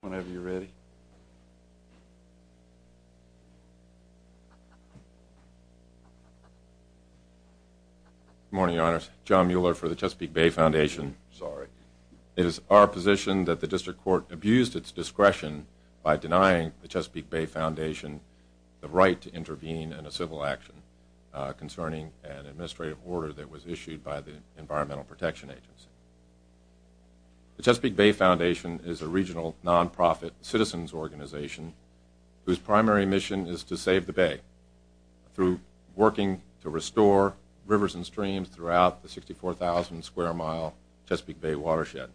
Whenever you're ready. Good morning, your honors. John Mueller for the Chesapeake Bay Foundation. Sorry. It is our position that the district court abused its discretion by denying the Chesapeake Bay Foundation the right to intervene in a civil action concerning an administrative order that was issued by the Environmental Protection Agency. The Chesapeake Bay Foundation is a regional nonprofit citizens organization whose primary mission is to save the Bay through working to restore rivers and streams throughout the 64,000 square mile Chesapeake Bay watershed.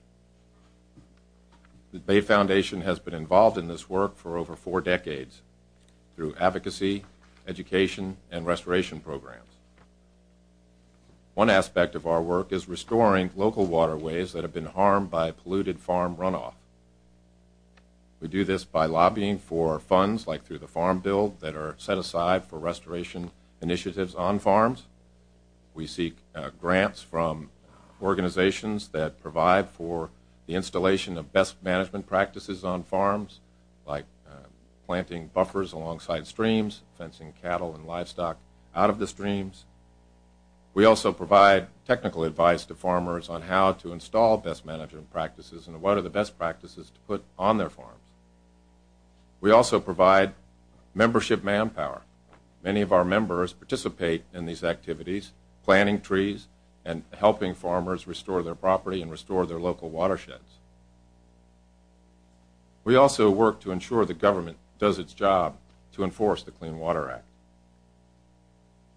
The Bay Foundation has been involved in this work for over four decades through advocacy, education, and restoration programs. One aspect of our work is restoring local waterways that have been harmed by polluted farm runoff. We do this by lobbying for funds like through the Farm Bill that are set aside for restoration initiatives on farms. We seek grants from organizations that provide for the installation of best management practices on farms like planting buffers alongside streams, fencing cattle and livestock out of the streams. We also provide technical advice to farmers on how to install best management practices and what are the best practices to put on their farms. We also provide membership manpower. Many of our members participate in these activities, planting trees and helping farmers restore their property and restore their local watersheds. We also work to ensure the government does its job to enforce the Clean Water Act.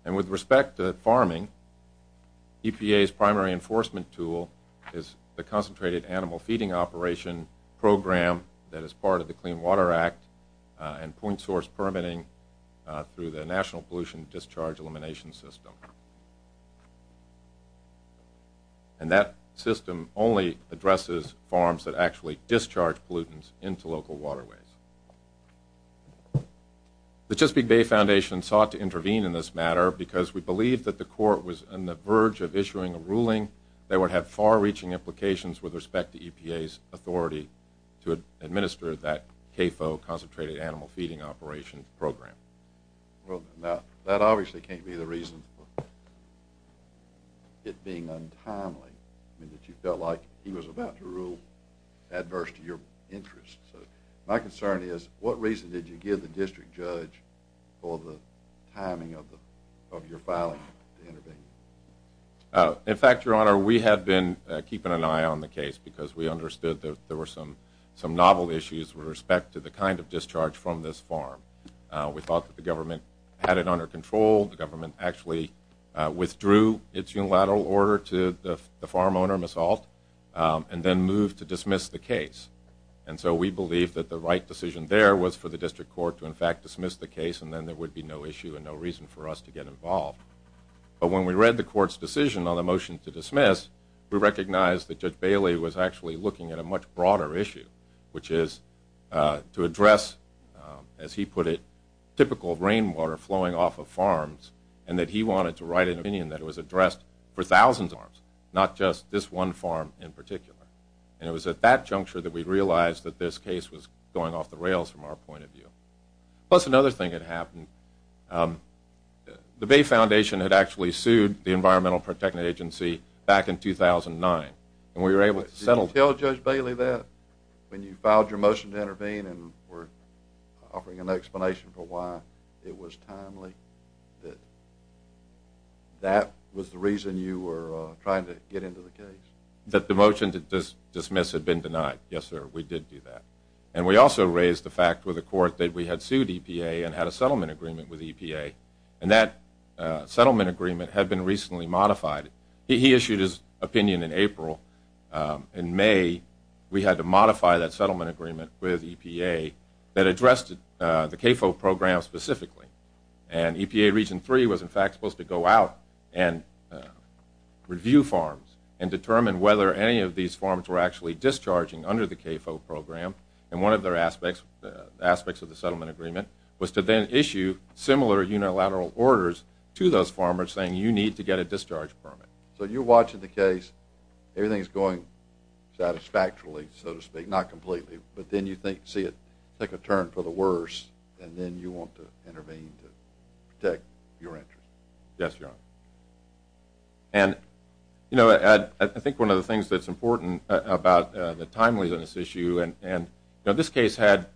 And with respect to farming, EPA's primary enforcement tool is the Concentrated Animal Feeding Operation program that is part of the Clean Water Act and point source permitting through the National Pollution Discharge Elimination System. And that system only addresses farms that actually discharge pollutants into local waterways. The Chesapeake Bay Foundation sought to intervene in this matter because we believe that the court was on the verge of issuing a ruling that would have far-reaching implications with respect to EPA's authority to administer that CAFO, Concentrated Animal Feeding Operation program. Well, now, that obviously can't be the reason for it being untimely in that you felt like he was about to rule adverse to your interests. My concern is, what reason did you give the district judge for the timing of your filing to intervene? In fact, Your Honor, we have been keeping an eye on the case because we understood that there were some novel issues with respect to the kind of discharge from this farm. We thought that the government had it under control. The government actually withdrew its unilateral order to the farm owner, Ms. Ault, and then moved to dismiss the case. And so we believe that the right decision there was for the district court to, in fact, dismiss the case, and then there would be no issue and no reason for us to get involved. But when we read the court's decision on the motion to dismiss, we recognized that Judge Bailey was actually looking at a much broader issue, which is to address, as he put it, typical rainwater flowing off of farms, and that he wanted to write an opinion that was addressed for thousands of farms, not just this one farm in particular. And it was at that juncture that we realized that this case was going off the rails from our point of view. Plus, another thing that happened, the Bay Foundation had actually sued the Environmental Protection Agency back in 2009, and we were able to settle... Did you tell Judge Bailey that when you filed your motion to intervene and were offering an explanation for why it was timely, that that was the reason you were trying to get into the case? That the motion to dismiss had been denied. Yes, sir, we did do that. And we also raised the fact with the court that we had sued EPA and had a settlement agreement with EPA, and that settlement agreement had been recently modified. He issued his opinion in April. In May, we had to modify that settlement agreement with EPA that addressed the CAFO program specifically. And EPA Region 3 was, in fact, supposed to go out and review farms and determine whether any of these farms were actually discharging under the CAFO program. And one of their aspects of the settlement agreement was to then issue similar unilateral orders to those farmers saying, you need to get a discharge permit. So you're watching the case, everything's going satisfactorily, so to speak, not completely, but then you see it take a turn for the worse, and then you want to intervene to protect your interests. Yes, Your Honor. And, you know, I think one of the things that's important about the timeliness issue, and this case had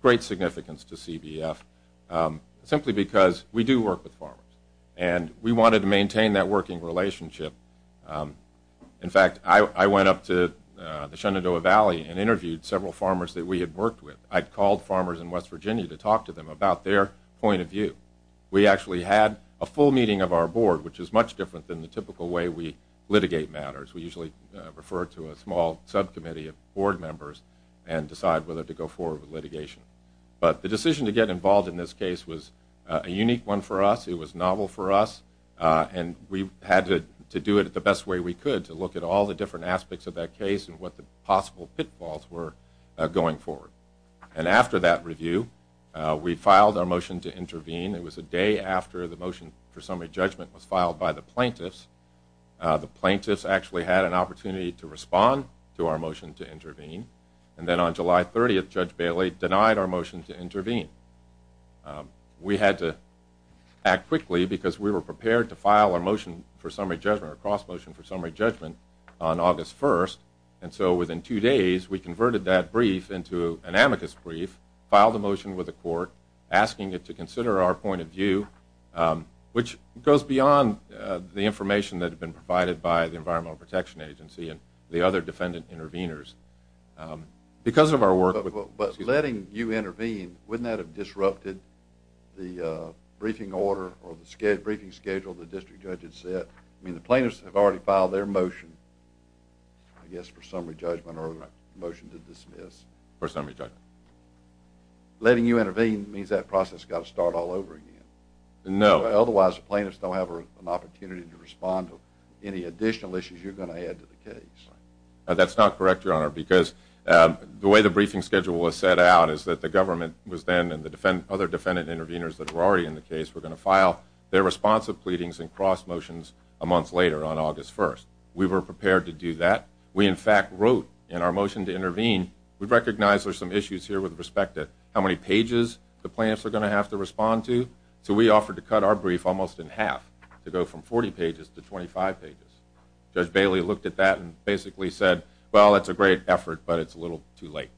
great significance to CBF simply because we do work with farmers, and we wanted to maintain that working relationship. In fact, I went up to the Shenandoah Valley and interviewed several farmers that we had worked with. I'd called farmers in West Virginia about their point of view. We actually had a full meeting of our board, which is much different than the typical way we litigate matters. We usually refer to a small subcommittee of board members and decide whether to go forward with litigation. But the decision to get involved in this case was a unique one for us, it was novel for us, and we had to do it the best way we could to look at all the different aspects of that case and what the possible pitfalls were going forward. And after that review, we filed our motion to intervene. It was a day after the motion for summary judgment was filed by the plaintiffs. The plaintiffs actually had an opportunity to respond to our motion to intervene. And then on July 30th, Judge Bailey denied our motion to intervene. We had to act quickly because we were prepared to file our motion for summary judgment, our cross-motion for summary judgment on August 1st. And so within two days, we converted that brief into an amicus brief, filed a motion with the court, asking it to consider our point of view, which goes beyond the information that had been provided by the Environmental Protection Agency and the other defendant intervenors. Because of our work... But letting you intervene, wouldn't that have disrupted the briefing order or the briefing schedule the district judge had set? I mean, the plaintiffs have already filed their motion, I guess, for summary judgment or a motion to dismiss. For summary judgment. Letting you intervene means that process has got to start all over again. No. Otherwise, the plaintiffs don't have an opportunity to respond to any additional issues you're going to add to the case. That's not correct, Your Honor, because the way the briefing schedule was set out is that the government was then, and the other defendant intervenors that were already in the case were going to file their responsive pleadings and cross-motions a month later on August 1st. We were prepared to do that. We, in fact, wrote in our motion to intervene, we recognize there's some issues here with respect to how many pages the plaintiffs are going to have to respond to, so we offered to cut our brief almost in half to go from 40 pages to 25 pages. Judge Bailey looked at that and basically said, well, it's a great effort, but it's a little too late.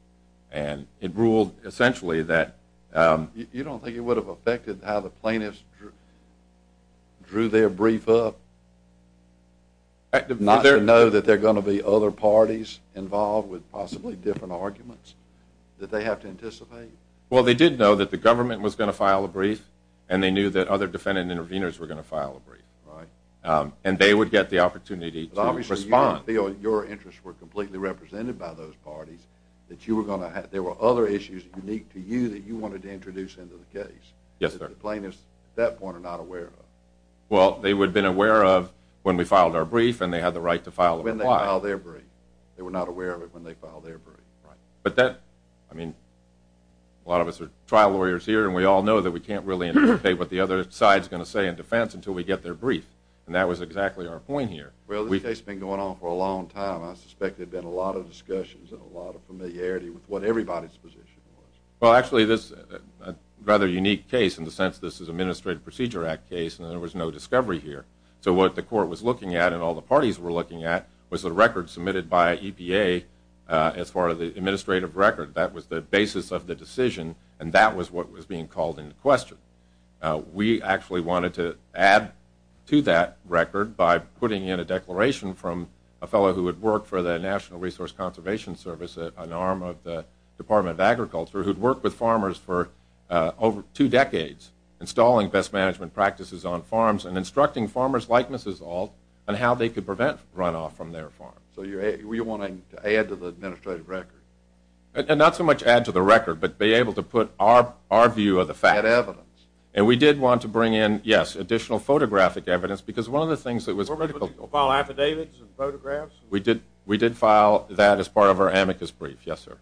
And it ruled, essentially, that... You don't think it would have affected how the plaintiffs drew their brief up? Not to know that there are going to be other parties involved with possibly different arguments that they have to anticipate? Well, they did know that the government was going to file a brief, and they knew that other defendant intervenors were going to file a brief. Right. And they would get the opportunity to respond. But obviously you didn't feel your interests were completely represented by those parties that there were other issues unique to you that you wanted to introduce into the case that the plaintiffs, at that point, were not aware of. Well, they would have been aware of when we filed our brief, and they had the right to file a reply. When they filed their brief. They were not aware of it when they filed their brief. Right. A lot of us are trial lawyers here, and we all know that we can't really anticipate what the other side's going to say in defense until we get their brief. And that was exactly our point here. Well, this case has been going on for a long time. I suspect there have been a lot of discussions and a lot of familiarity with what everybody's position was. Well, actually, this is a rather unique case in the sense that this is an Administrative Procedure Act case, and there was no discovery here. So what the court was looking at, and all the parties were looking at, was the record submitted by EPA as far as the administrative record. That was the basis of the decision, and that was what was being called into question. We actually wanted to add to that record by putting in a declaration from a fellow who had worked for the National Resource Conservation Service, an arm of the Department of Agriculture, who'd worked with farmers for over two decades, installing best management practices on farms and instructing farmers like Mrs. Ault on how they could prevent runoff from their farm. So you want to add to the administrative record? Not so much add to the record, but be able to put our view of the fact. And we did want to bring in, yes, additional photographic evidence, because one of the things that was critical... Did you file affidavits and photographs? We did file that as part of our amicus brief, yes, sir.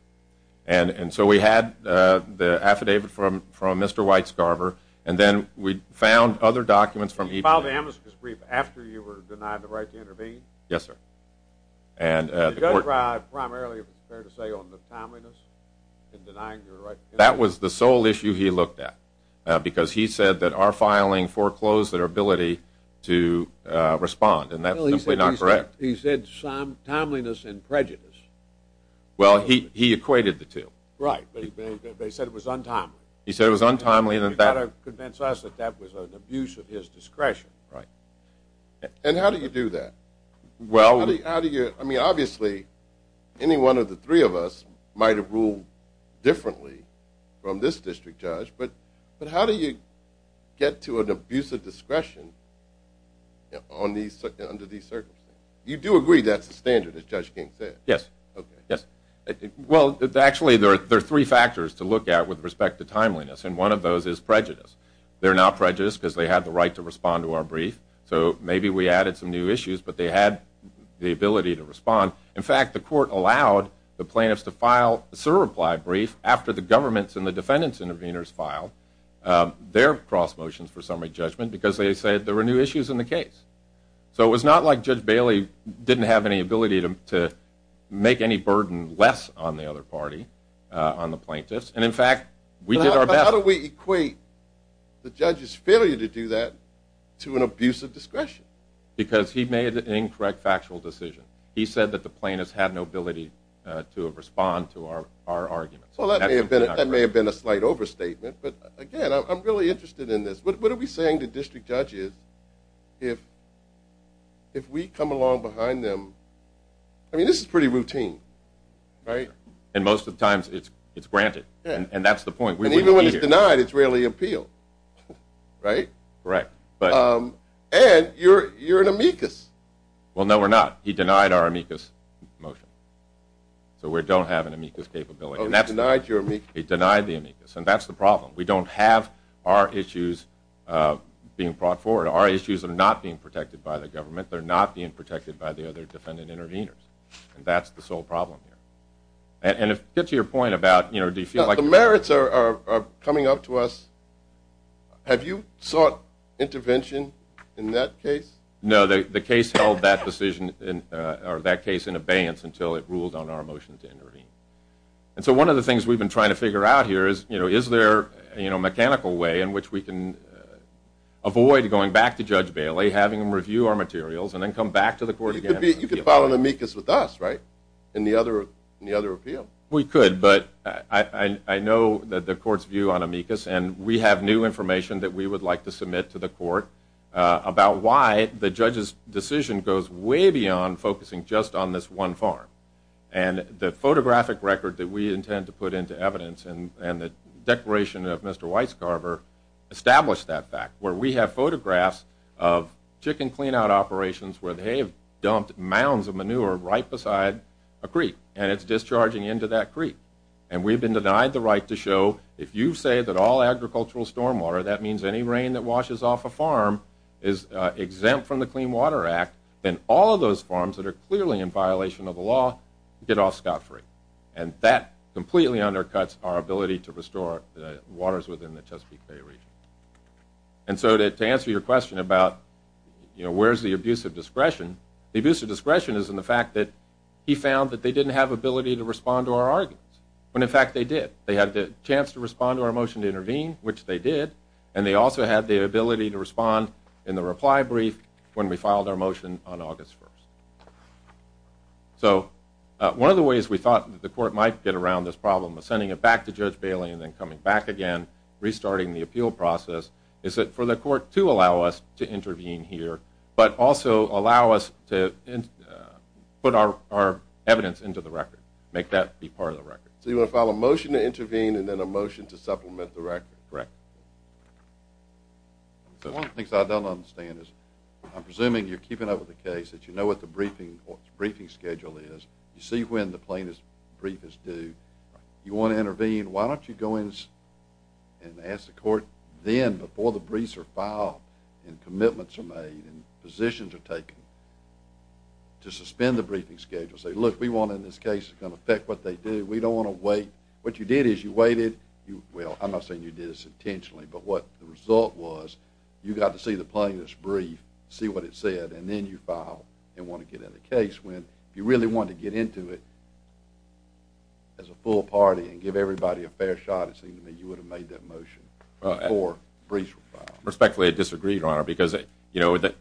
And so we had the affidavit from Mr. White Scarver, and then we found other documents from EPA... Did you file the amicus brief after you were denied the right to intervene? Yes, sir. Did the judge ride primarily, if it's fair to say, on the timeliness in denying your right to intervene? That was the sole issue he looked at, because he said that our filing foreclosed their ability to respond, and that's simply not correct. He said timeliness and prejudice. Well, he equated the two. Right, but he said it was untimely. He said it was untimely and that... You've got to convince us that that was an abuse of his discretion. Right. And how do you do that? I mean, obviously, any one of the three of us might have ruled differently from this district judge, but how do you get to an abuse of discretion under these circumstances? You do agree that's the standard, as Judge King said? Yes. Well, actually, there are three factors to look at with respect to timeliness, and one of those is prejudice. They're not prejudiced because they had the right to respond to our brief, so maybe we added some new issues, but they had the ability to respond. In fact, the court allowed the plaintiffs to file a surreplied brief after the government's and the defendant's intervenors filed their cross motions for summary judgment because they said there were new issues in the case. So it was not like Judge Bailey didn't have any ability to make any burden less on the other party, on the plaintiffs, and in fact But how do we equate the judge's failure to do that to an abuse of discretion? Because he made an incorrect factual decision. He said that the plaintiffs had no ability to respond to our arguments. That may have been a slight overstatement, but again, I'm really interested in this. What are we saying to district judges if we come along behind them? I mean, this is pretty routine, right? And most of the times it's granted, and that's the point. And even when it's denied, it's rarely appealed. Right? Right. And you're an amicus. Well, no, we're not. He denied our amicus motion. So we don't have an amicus capability. He denied the amicus. And that's the problem. We don't have our issues being brought forward. Our issues are not being protected by the government. They're not being protected by the other defendant intervenors. And that's the sole problem here. And to get to your point about... The merits are coming up to us. Have you sought intervention in that case? No, the case held that decision, or that case in abeyance until it ruled on our motion to intervene. And so one of the things we've been trying to figure out here is, you know, is there a mechanical way in which we can avoid going back to Judge Bailey, having him review our materials, and then come back to the court again? You could file an amicus with us, right? In the other appeal. We could, but I know that the court's view on amicus, and we have new information that we would like to submit to the court about why the judge's decision goes way beyond focusing just on this one farm. And the photographic record that we intend to put into evidence, and the declaration of Mr. Weisgarber, established that fact, where we have photographs of chicken clean-out mounds of manure right beside a creek, and it's discharging into that creek. And we've been denied the right to show if you say that all agricultural stormwater, that means any rain that washes off a farm, is exempt from the Clean Water Act, then all of those farms that are clearly in violation of the law, get off scot-free. And that completely undercuts our ability to restore the waters within the Chesapeake Bay region. And so to answer your question about, you know, where's the abuse of discretion? The abuse of discretion is in the fact that he found that they didn't have ability to respond to our arguments, when in fact they did. They had the chance to respond to our motion to intervene, which they did, and they also had the ability to respond in the reply brief when we filed our motion on August 1st. So, one of the ways we thought the court might get around this problem, was sending it back to Judge Bailey and then coming back again, restarting the appeal process, is that for the court to allow us to intervene here, but also allow us to put our evidence into the record, make that be part of the record. So you want to file a motion to intervene and then a motion to supplement the record? Correct. One of the things I don't understand is, I'm presuming you're keeping up with the case, that you know what the briefing schedule is, you see when the plaintiff's brief is due, you want to intervene, why don't you go in and ask the court then, before the briefs are filed and commitments are made and to suspend the briefing schedule. Say, look, we want in this case, it's going to affect what they do, we don't want to wait. What you did is, you waited, well, I'm not saying you did this intentionally, but what the result was, you got to see the plaintiff's brief, see what it said and then you file and want to get in the case when you really want to get into it as a full party and give everybody a fair shot, it seems to me you would have made that motion before briefs were filed. Respectfully, I disagree, Your Honor, because you know, the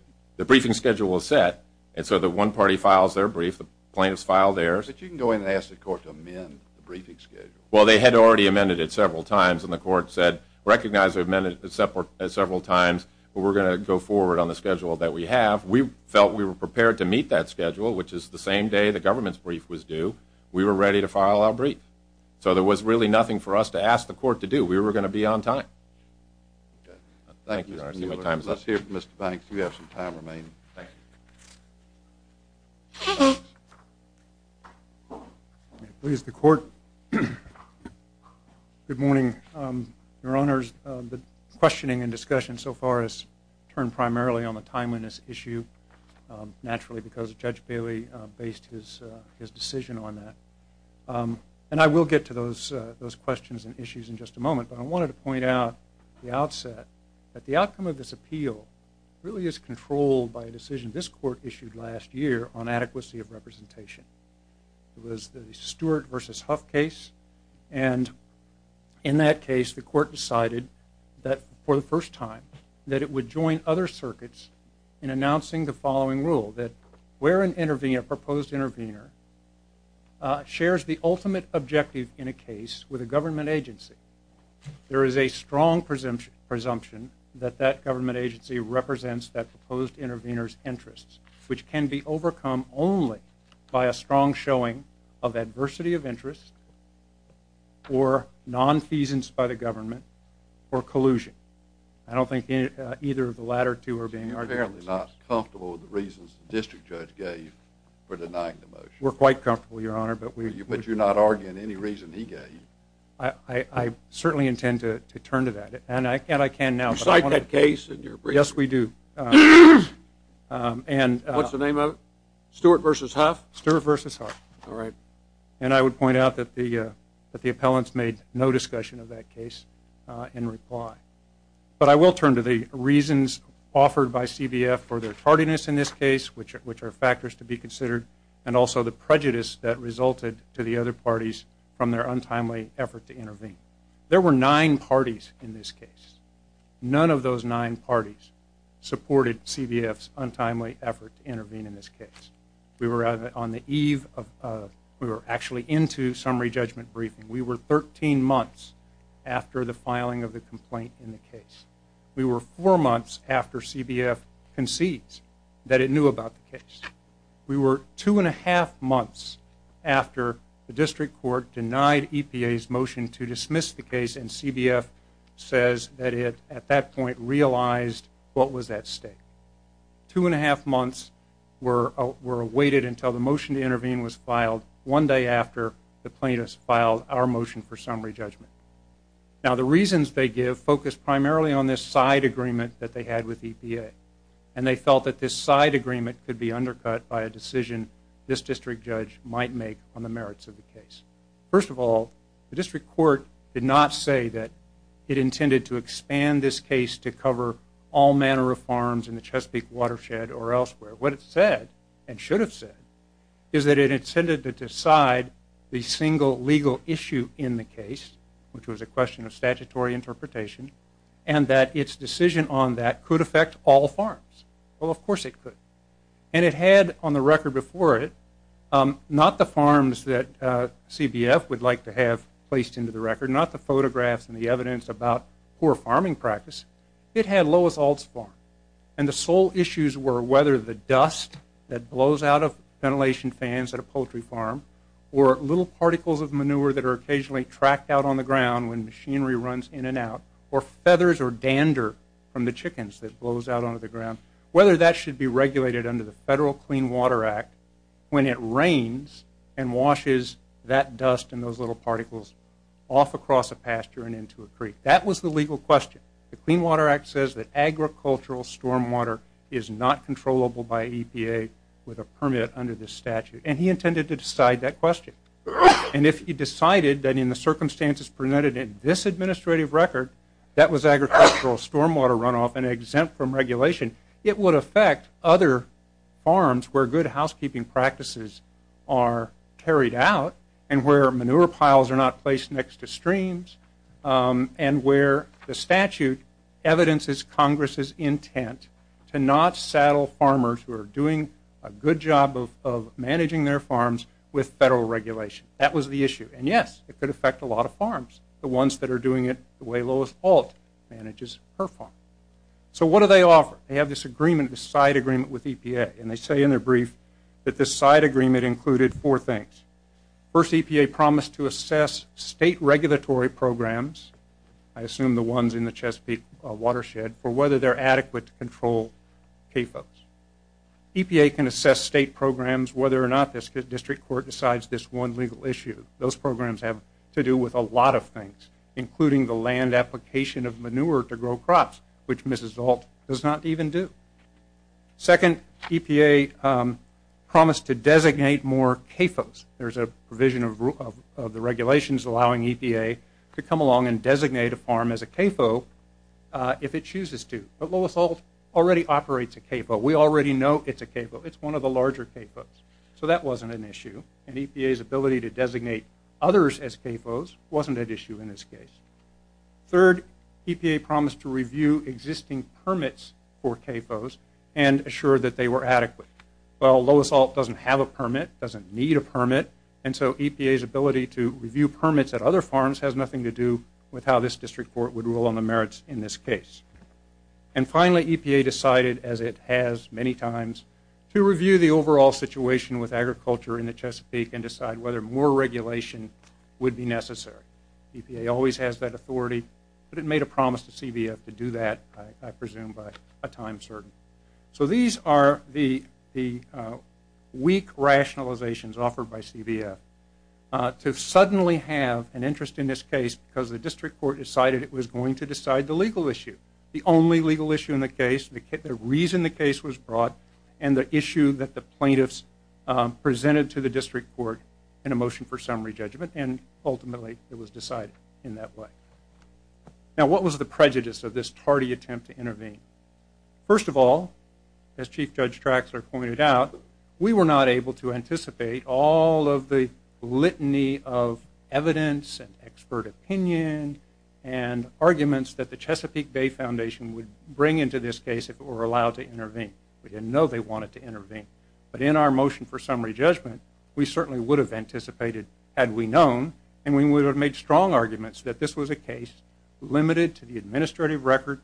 briefing schedule was set, and so the one party files their brief, the plaintiff's file theirs. But you can go in and ask the court to amend the briefing schedule. Well, they had already amended it several times and the court said, recognize we've amended it several times but we're going to go forward on the schedule that we have. We felt we were prepared to meet that schedule, which is the same day the government's brief was due, we were ready to file our brief. So there was really nothing for us to ask the court to do, we were going to be on time. Thank you, Mr. Mueller. Let's hear from Mr. Banks, you have some time remaining. Thank you. Please, the court. Good morning, Your Honors, the questioning and discussion so far has turned primarily on the timeliness issue, naturally because Judge Bailey based his decision on that. And I will get to those questions and issues in just a moment, but I wanted to point out at the outset that the outcome of this appeal really is controlled by a decision this court issued last year on adequacy of representation. It was the Stewart v. Huff case and in that case the court decided that for the first time, that it would join other circuits in announcing the following rule, that where an intervener, a proposed intervener shares the ultimate objective in a case with a government agency, there is a strong presumption that that government agency represents that proposed intervener's interests, which can be overcome only by a strong showing of adversity of interest or nonfeasance by the government or collusion. I don't think either of the latter two are being argued. Are you comfortable with the reasons the district judge gave for denying the motion? We're quite comfortable, Your Honor. But you're not arguing any reason he gave? I certainly intend to turn to that, and I can now. You cite that case in your brief? Yes, we do. What's the name of it? Stewart v. Huff? And I would point out that the appellants made no discussion of that case in reply. But I will turn to the reasons offered by CBF for their tardiness in this case, which are factors to be considered, and also the prejudice that resulted to the other parties from their untimely effort to intervene. There were nine parties in this case. None of those nine parties supported CBF's untimely effort to intervene in this case. We were on the eve of we were actually into summary judgment briefing. We were 13 months after the filing of the complaint in the case. We were four months after CBF concedes that it knew about the case. We were two and a half months after the district court denied EPA's motion to dismiss the case, and CBF says that it at that point realized what was at stake. Two and a half months were awaited until the motion to intervene was filed one day after the plaintiffs filed our motion for summary judgment. Now the reasons they give focus primarily on this side agreement that they had with EPA, and they felt that this side agreement could be undercut by a decision this district judge might make on the merits of the case. First of all, the district court did not say that it intended to expand this case to cover all manner of farms in the Chesapeake watershed or elsewhere. What it said, and should have said, is that it intended to decide the single legal issue in the case, which was a question of statutory interpretation, and that its decision on that could affect all farms. Well, of course it could. And it had on the record before it not the farms that CBF would like to have placed into the record, not the photographs and the evidence about poor farming practice. It had Lois Ault's farm. And the sole issues were whether the dust that blows out of ventilation fans at a poultry farm or little particles of manure that are occasionally tracked out on the ground when machinery runs in and out, or feathers or dander from the chickens that blows out onto the ground, whether that should be regulated under the Federal Clean Water Act when it rains and washes that dust and those little particles off across a pasture and into a creek. That was the legal question. The Clean Water Act says that agricultural stormwater is not controllable by EPA with a permit under this statute. And he intended to decide that question. And if he did this administrative record, that was agricultural stormwater runoff and exempt from regulation, it would affect other farms where good housekeeping practices are carried out and where manure piles are not placed next to streams and where the statute evidences Congress's intent to not saddle farmers who are doing a good job of managing their farms with Federal regulation. That was the issue. And yes, it could affect a lot of farms, the ones that are doing it the way Lois Holt manages her farm. So what do they offer? They have this agreement, this side agreement with EPA, and they say in their brief that this side agreement included four things. First, EPA promised to assess state regulatory programs, I assume the ones in the Chesapeake watershed, for whether they're adequate to control CAFOs. EPA can assess state programs whether or not the district court decides this one legal issue. Those programs have to do with a lot of things, including the land application of manure to grow crops, which Mrs. Holt does not even do. Second, EPA promised to designate more CAFOs. There's a provision of the regulations allowing EPA to come along and designate a farm as a CAFO if it chooses to. But Lois Holt already operates a CAFO. We already know it's a CAFO. It's one of the larger CAFOs. So that wasn't an issue. And EPA's ability to designate others as CAFOs wasn't an issue in this case. Third, EPA promised to review existing permits for CAFOs and assure that they were adequate. Well, Lois Holt doesn't have a permit, doesn't need a permit, and so EPA's ability to review permits at other farms has nothing to do with how this district court would rule on the merits in this case. And finally, EPA decided, as it has many times, to review the overall situation with agriculture in the Chesapeake and decide whether more regulation would be necessary. EPA always has that authority, but it made a promise to CBF to do that, I presume by a time certain. So these are the weak rationalizations offered by CBF to suddenly have an interest in this case because the district court decided it was going to decide the legal issue. The only legal issue in the case, the reason the case was brought, and the issue that the plaintiffs presented to the district court in a motion for summary judgment, and ultimately it was decided in that way. Now, what was the prejudice of this tardy attempt to intervene? First of all, as Chief Judge Traxler pointed out, we were not able to anticipate all of the litany of evidence and expert opinion and arguments that the Chesapeake Bay Foundation would bring into this case if it were allowed to intervene. We didn't know they wanted to intervene. But in our motion for summary judgment, we certainly would have anticipated, had we known, and we would have made strong arguments that this was a case limited to the administrative record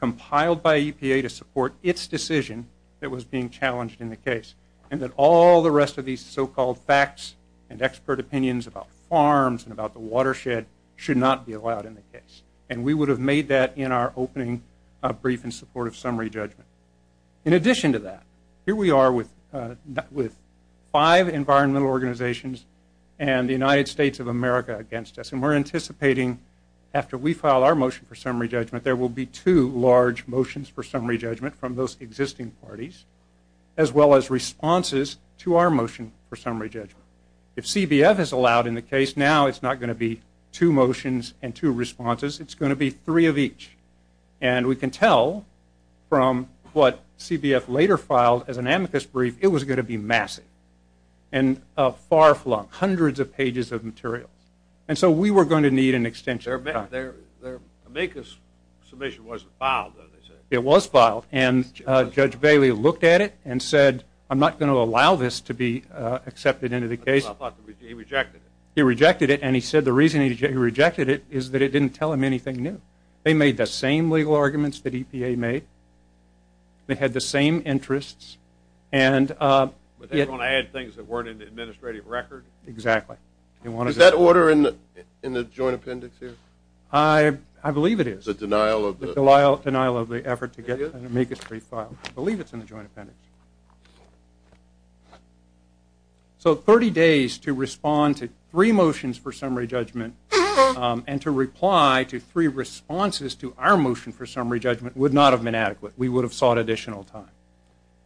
compiled by EPA to support its decision that was being challenged in the case, and that all the rest of these so-called facts and expert opinions about farms and about the watershed should not be allowed in the case. And we would have made that in our opening brief in support of summary judgment. In addition to that, here we are with five environmental organizations and the United States of America against us, and we're anticipating after we file our motion for summary judgment, there will be two large motions for summary judgment from those existing parties, as well as responses to our motion for summary judgment. If CBF is allowed in the case, now it's not going to be two motions and two responses. It's going to be three of each. And we can tell from what CBF later filed as an amicus brief, it was going to be massive and far-flung, hundreds of pages of material. And so we were going to need an extension. The amicus submission wasn't filed, though, they said. It was filed, and Judge Bailey looked at it and said I'm not going to allow this to be accepted into the case. He rejected it, and he said the reason he rejected it is that it didn't tell him anything new. They made the same legal arguments that EPA made. They had the same interests. But they were going to add things that weren't in the administrative record? Exactly. Is that order in the joint appendix here? I believe it is. The denial of the effort to get an amicus brief filed. I believe it's in the joint appendix. So 30 days to respond to three motions for summary judgment, and to reply to three responses to our motion for summary judgment would not have been adequate. We would have sought additional time.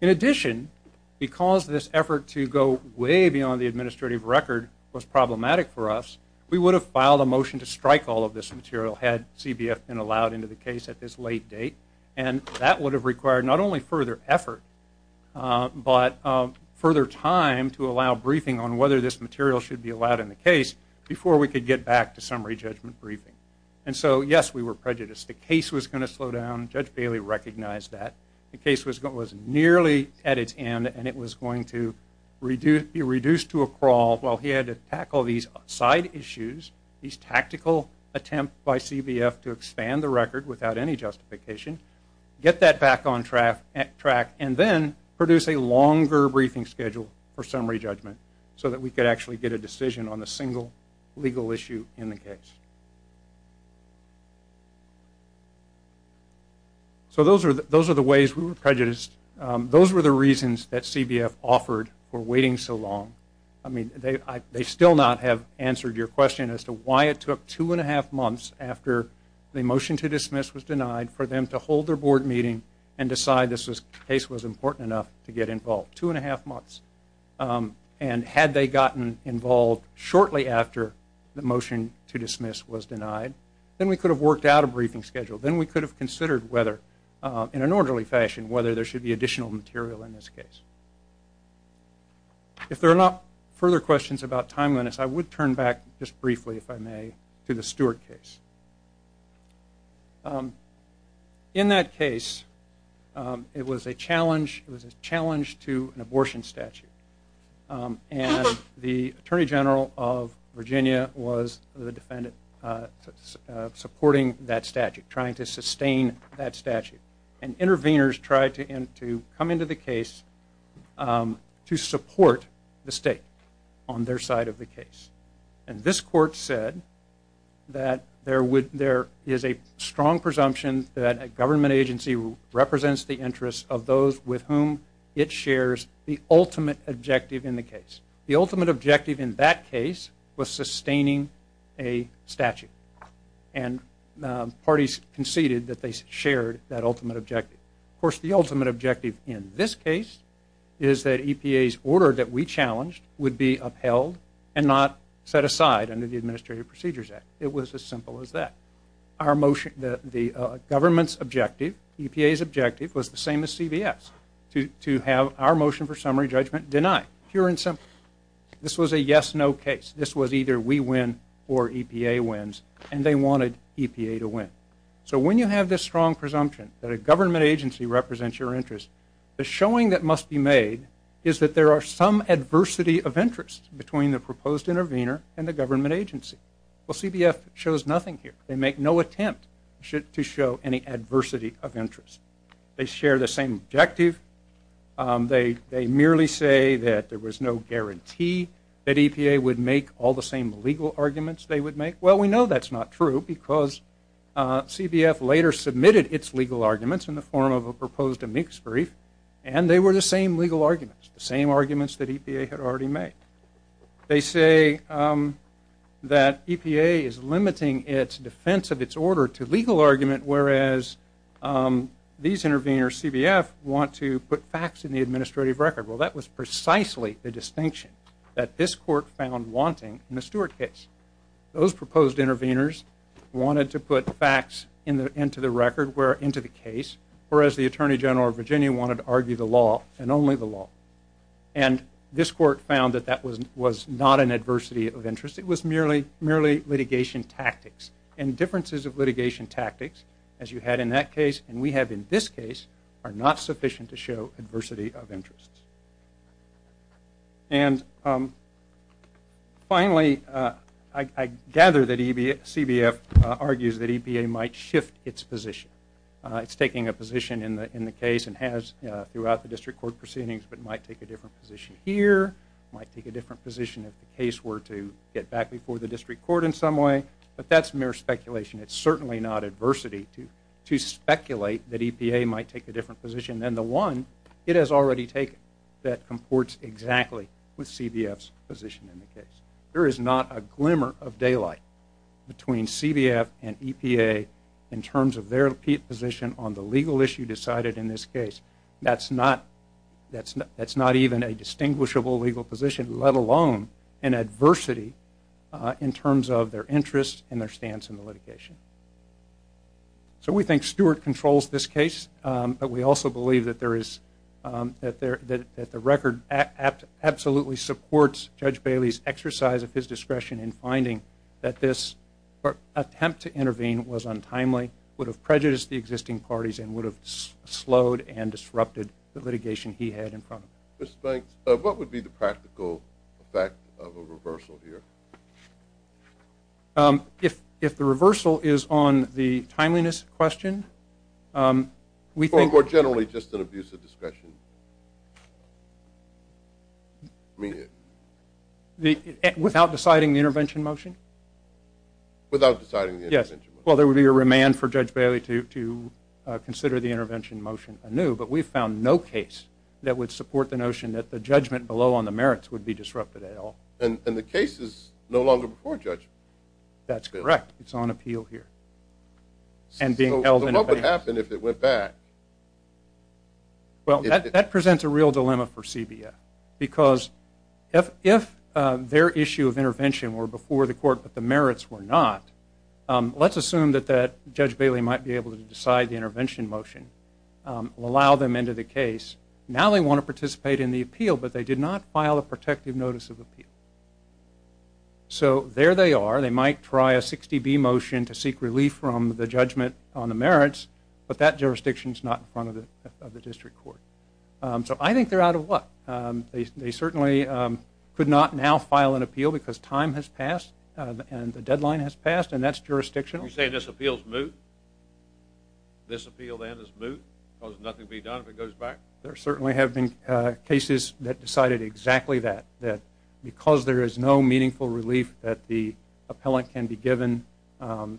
In addition, because this effort to go way beyond the administrative record was problematic for us, we would have filed a motion to strike all of this material had CBF been allowed into the case at this late date, and that would have required not only further effort, but further time to allow briefing on whether this material should be allowed in the case before we could get back to summary judgment briefing. And so, yes, we were prejudiced. The case was going to slow down. Judge Bailey recognized that. The case was nearly at its end, and it was going to be reduced to a crawl while he had to tackle these side issues, these tactical attempts by CBF to expand the record without any justification, get that back on track, and then produce a longer briefing schedule for summary judgment so that we could actually get a decision on a single legal issue in the case. So those are the ways we were prejudiced. Those were the reasons that CBF offered for waiting so long. I mean, they still not have answered your question as to why it took two and a half months after the motion to dismiss was denied for them to hold their board meeting and decide this case was important enough to get involved. Two and a half months. And had they gotten involved shortly after the motion to dismiss was denied, then we could have worked out a briefing schedule. Then we could have considered whether in an orderly fashion, whether there should be additional material in this case. If there are not further questions about timeliness, I would turn back just briefly, if I may, to the Stewart case. In that case, it was a challenge to an abortion statute. And the Attorney General of Virginia was the defendant supporting that statute, trying to sustain that statute. come into the case to support the state on their side of the case. And this court said that there is a strong presumption that a government agency represents the interests of those with whom it shares the ultimate objective in the case. The ultimate objective in that case was sustaining a statute. And parties conceded that they shared that ultimate objective. Of course, the ultimate objective in this case is that EPA's order that we challenged would be upheld and not set aside under the Administrative Procedures Act. It was as simple as that. The government's objective, EPA's objective, was the same as CBS, to have our motion for summary judgment denied. Pure and simple. This was a yes-no case. This was either we win or EPA wins, and they wanted EPA to win. So when you have this strong presumption that a government agency represents your interests, the showing that must be made is that there are some adversity of interest between the proposed intervener and the government agency. Well, CBF shows nothing here. They make no attempt to show any adversity of interest. They share the same objective. They merely say that there was no guarantee that EPA would make all the same legal arguments they would make. Well, we know that's not true, because CBF later submitted its legal arguments in the form of a proposed amicus brief, and they were the same legal arguments. The same arguments that EPA had already made. They say that EPA is limiting its defense of its order to legal argument, whereas these interveners, CBF, want to put facts in the administrative record. Well, that was precisely the distinction that this court found wanting in the Stewart case. Those proposed interveners wanted to put facts into the record, into the case, whereas the Attorney General of Virginia wanted to argue the law, and only the law. And this court found that that was not an adversity of interest. It was merely litigation tactics. And differences of litigation tactics, as you had in that case, and we have in this case, are not sufficient to show adversity of interest. And finally, I gather that CBF argues that EPA might shift its position. It's taking a position in the case and has throughout the district court proceedings, but might take a different position here, might take a different position if the case were to get back before the district court in some way, but that's mere speculation. It's certainly not adversity to speculate that EPA might take a different position than the one it has already taken that comports exactly with CBF's position in the case. There is not a glimmer of daylight between CBF and EPA in terms of their position on the legal issue decided in this case. That's not even a distinguishable legal position, let alone an adversity in terms of their interest and their stance in the litigation. So we think Stewart controls this case, but we also believe that there is, that the record absolutely supports Judge Bailey's exercise of his discretion in attempt to intervene was untimely, would have prejudiced the existing parties, and would have slowed and disrupted the litigation he had in front of him. Mr. Banks, what would be the practical effect of a reversal here? If the reversal is on the timeliness question, we think... Or generally just an abuse of discretion. Without deciding the intervention motion? Without deciding the intervention motion. Yes. Well, there would be a remand for Judge Bailey to consider the intervention motion anew, but we've found no case that would support the notion that the judgment below on the merits would be disrupted at all. And the case is no longer before judgment? That's correct. It's on appeal here. So what would happen if it went back? Well, that presents a real dilemma for CBF, because if their issue of intervention were before the court, but the merits were not, let's assume that Judge Bailey might be able to decide the intervention motion, allow them into the case. Now they want to participate in the appeal, but they did not file a protective notice of appeal. So there they are. They might try a 60B motion to seek relief from the judgment on the merits, but that jurisdiction's not in front of the district court. So I think they're out of luck. They certainly could not now file an appeal because time has passed and the deadline has passed, and that's jurisdictional. You're saying this appeal's moot? This appeal then is moot because nothing can be done if it goes back? There certainly have been cases that decided exactly that. Because there is no meaningful relief that the appellant can be given,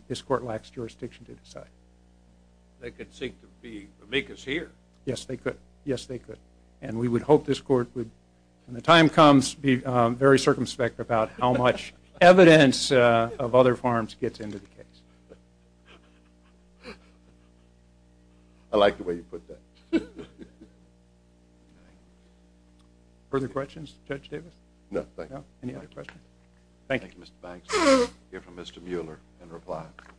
this court lacks jurisdiction to decide. They could seek to be amicus here. Yes, they could. Yes, they could. And we would hope this court would, when the time comes, be very circumspect about how much evidence of other farms gets into the case. I like the way you put that. Further questions, Judge Davis? No, thank you. Thank you, Mr. Banks. We'll hear from Mr. Mueller and reply. Thank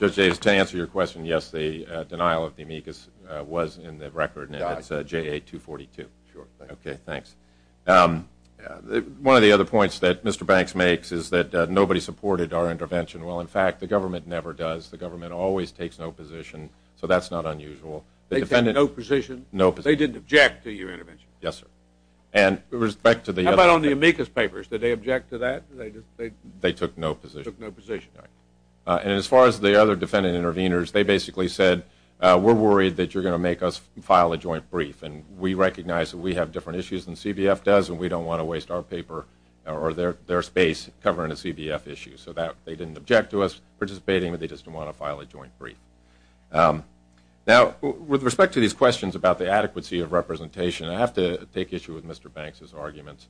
you. Judge Davis, to answer your question, yes, the denial of the amicus was in the record, and it's J.A. 242. Okay, thanks. One of the other points that Mr. Banks makes is that nobody supported our intervention. Well, in fact, the government never does. The government always takes no position, so that's not unusual. They take no position? They didn't object to your intervention? Yes, sir. How about on the amicus papers? Did they object to that? They took no position. And as far as the other defendant intervenors, they basically said, we're worried that you're going to make us file a joint brief, and we recognize that we have different issues than CBF does, and we don't want to waste our paper, or their space, covering a CBF issue. So they didn't object to us participating, but they just didn't want to file a joint brief. Now, with respect to these questions about the adequacy of representation, I have to take issue with Mr. Banks' arguments.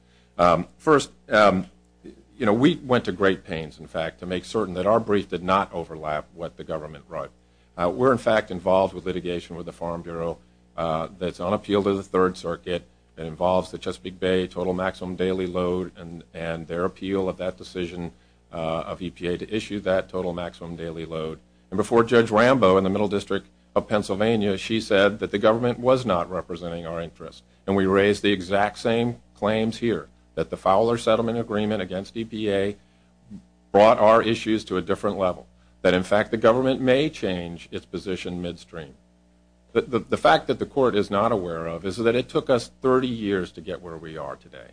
First, we went to great pains, in fact, to make certain that our brief did not overlap what the government wrote. We're, in fact, involved with litigation with the Farm Bureau that's on appeal to the Third Circuit that involves the Chesapeake Bay total maximum daily load, and their appeal of that decision of EPA to issue that total maximum daily load. And before Judge Rambo in the Middle District of Pennsylvania, she said that the government was not representing our interests, and we raised the exact same claims here. That the Fowler Settlement Agreement against EPA brought our issues to a different level. That, in fact, the government may change its position midstream. The fact that the court is not aware of is that it took us 30 years to get where we are today.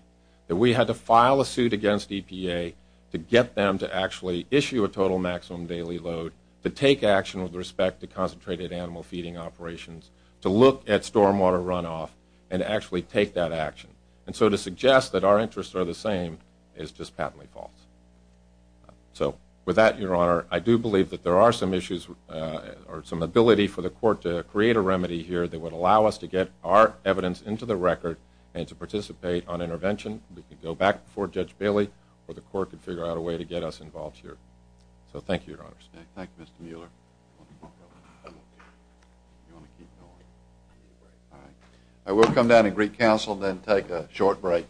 That we had to file a suit against EPA to get them to actually issue a total maximum daily load, to take action with respect to concentrated animal feeding operations, to look at stormwater runoff, and to actually take that action. And so to suggest that our interests are the same is just patently false. So with that, Your Honor, I do believe that there are some issues or some ability for the court to create a remedy here that would allow us to get our evidence into the record and to participate on intervention. We can go back before Judge Bailey, or the court can figure out a way to get us involved here. So thank you, Your Honor. Thank you, Mr. Mueller. I will come down and greet counsel, then take a short break.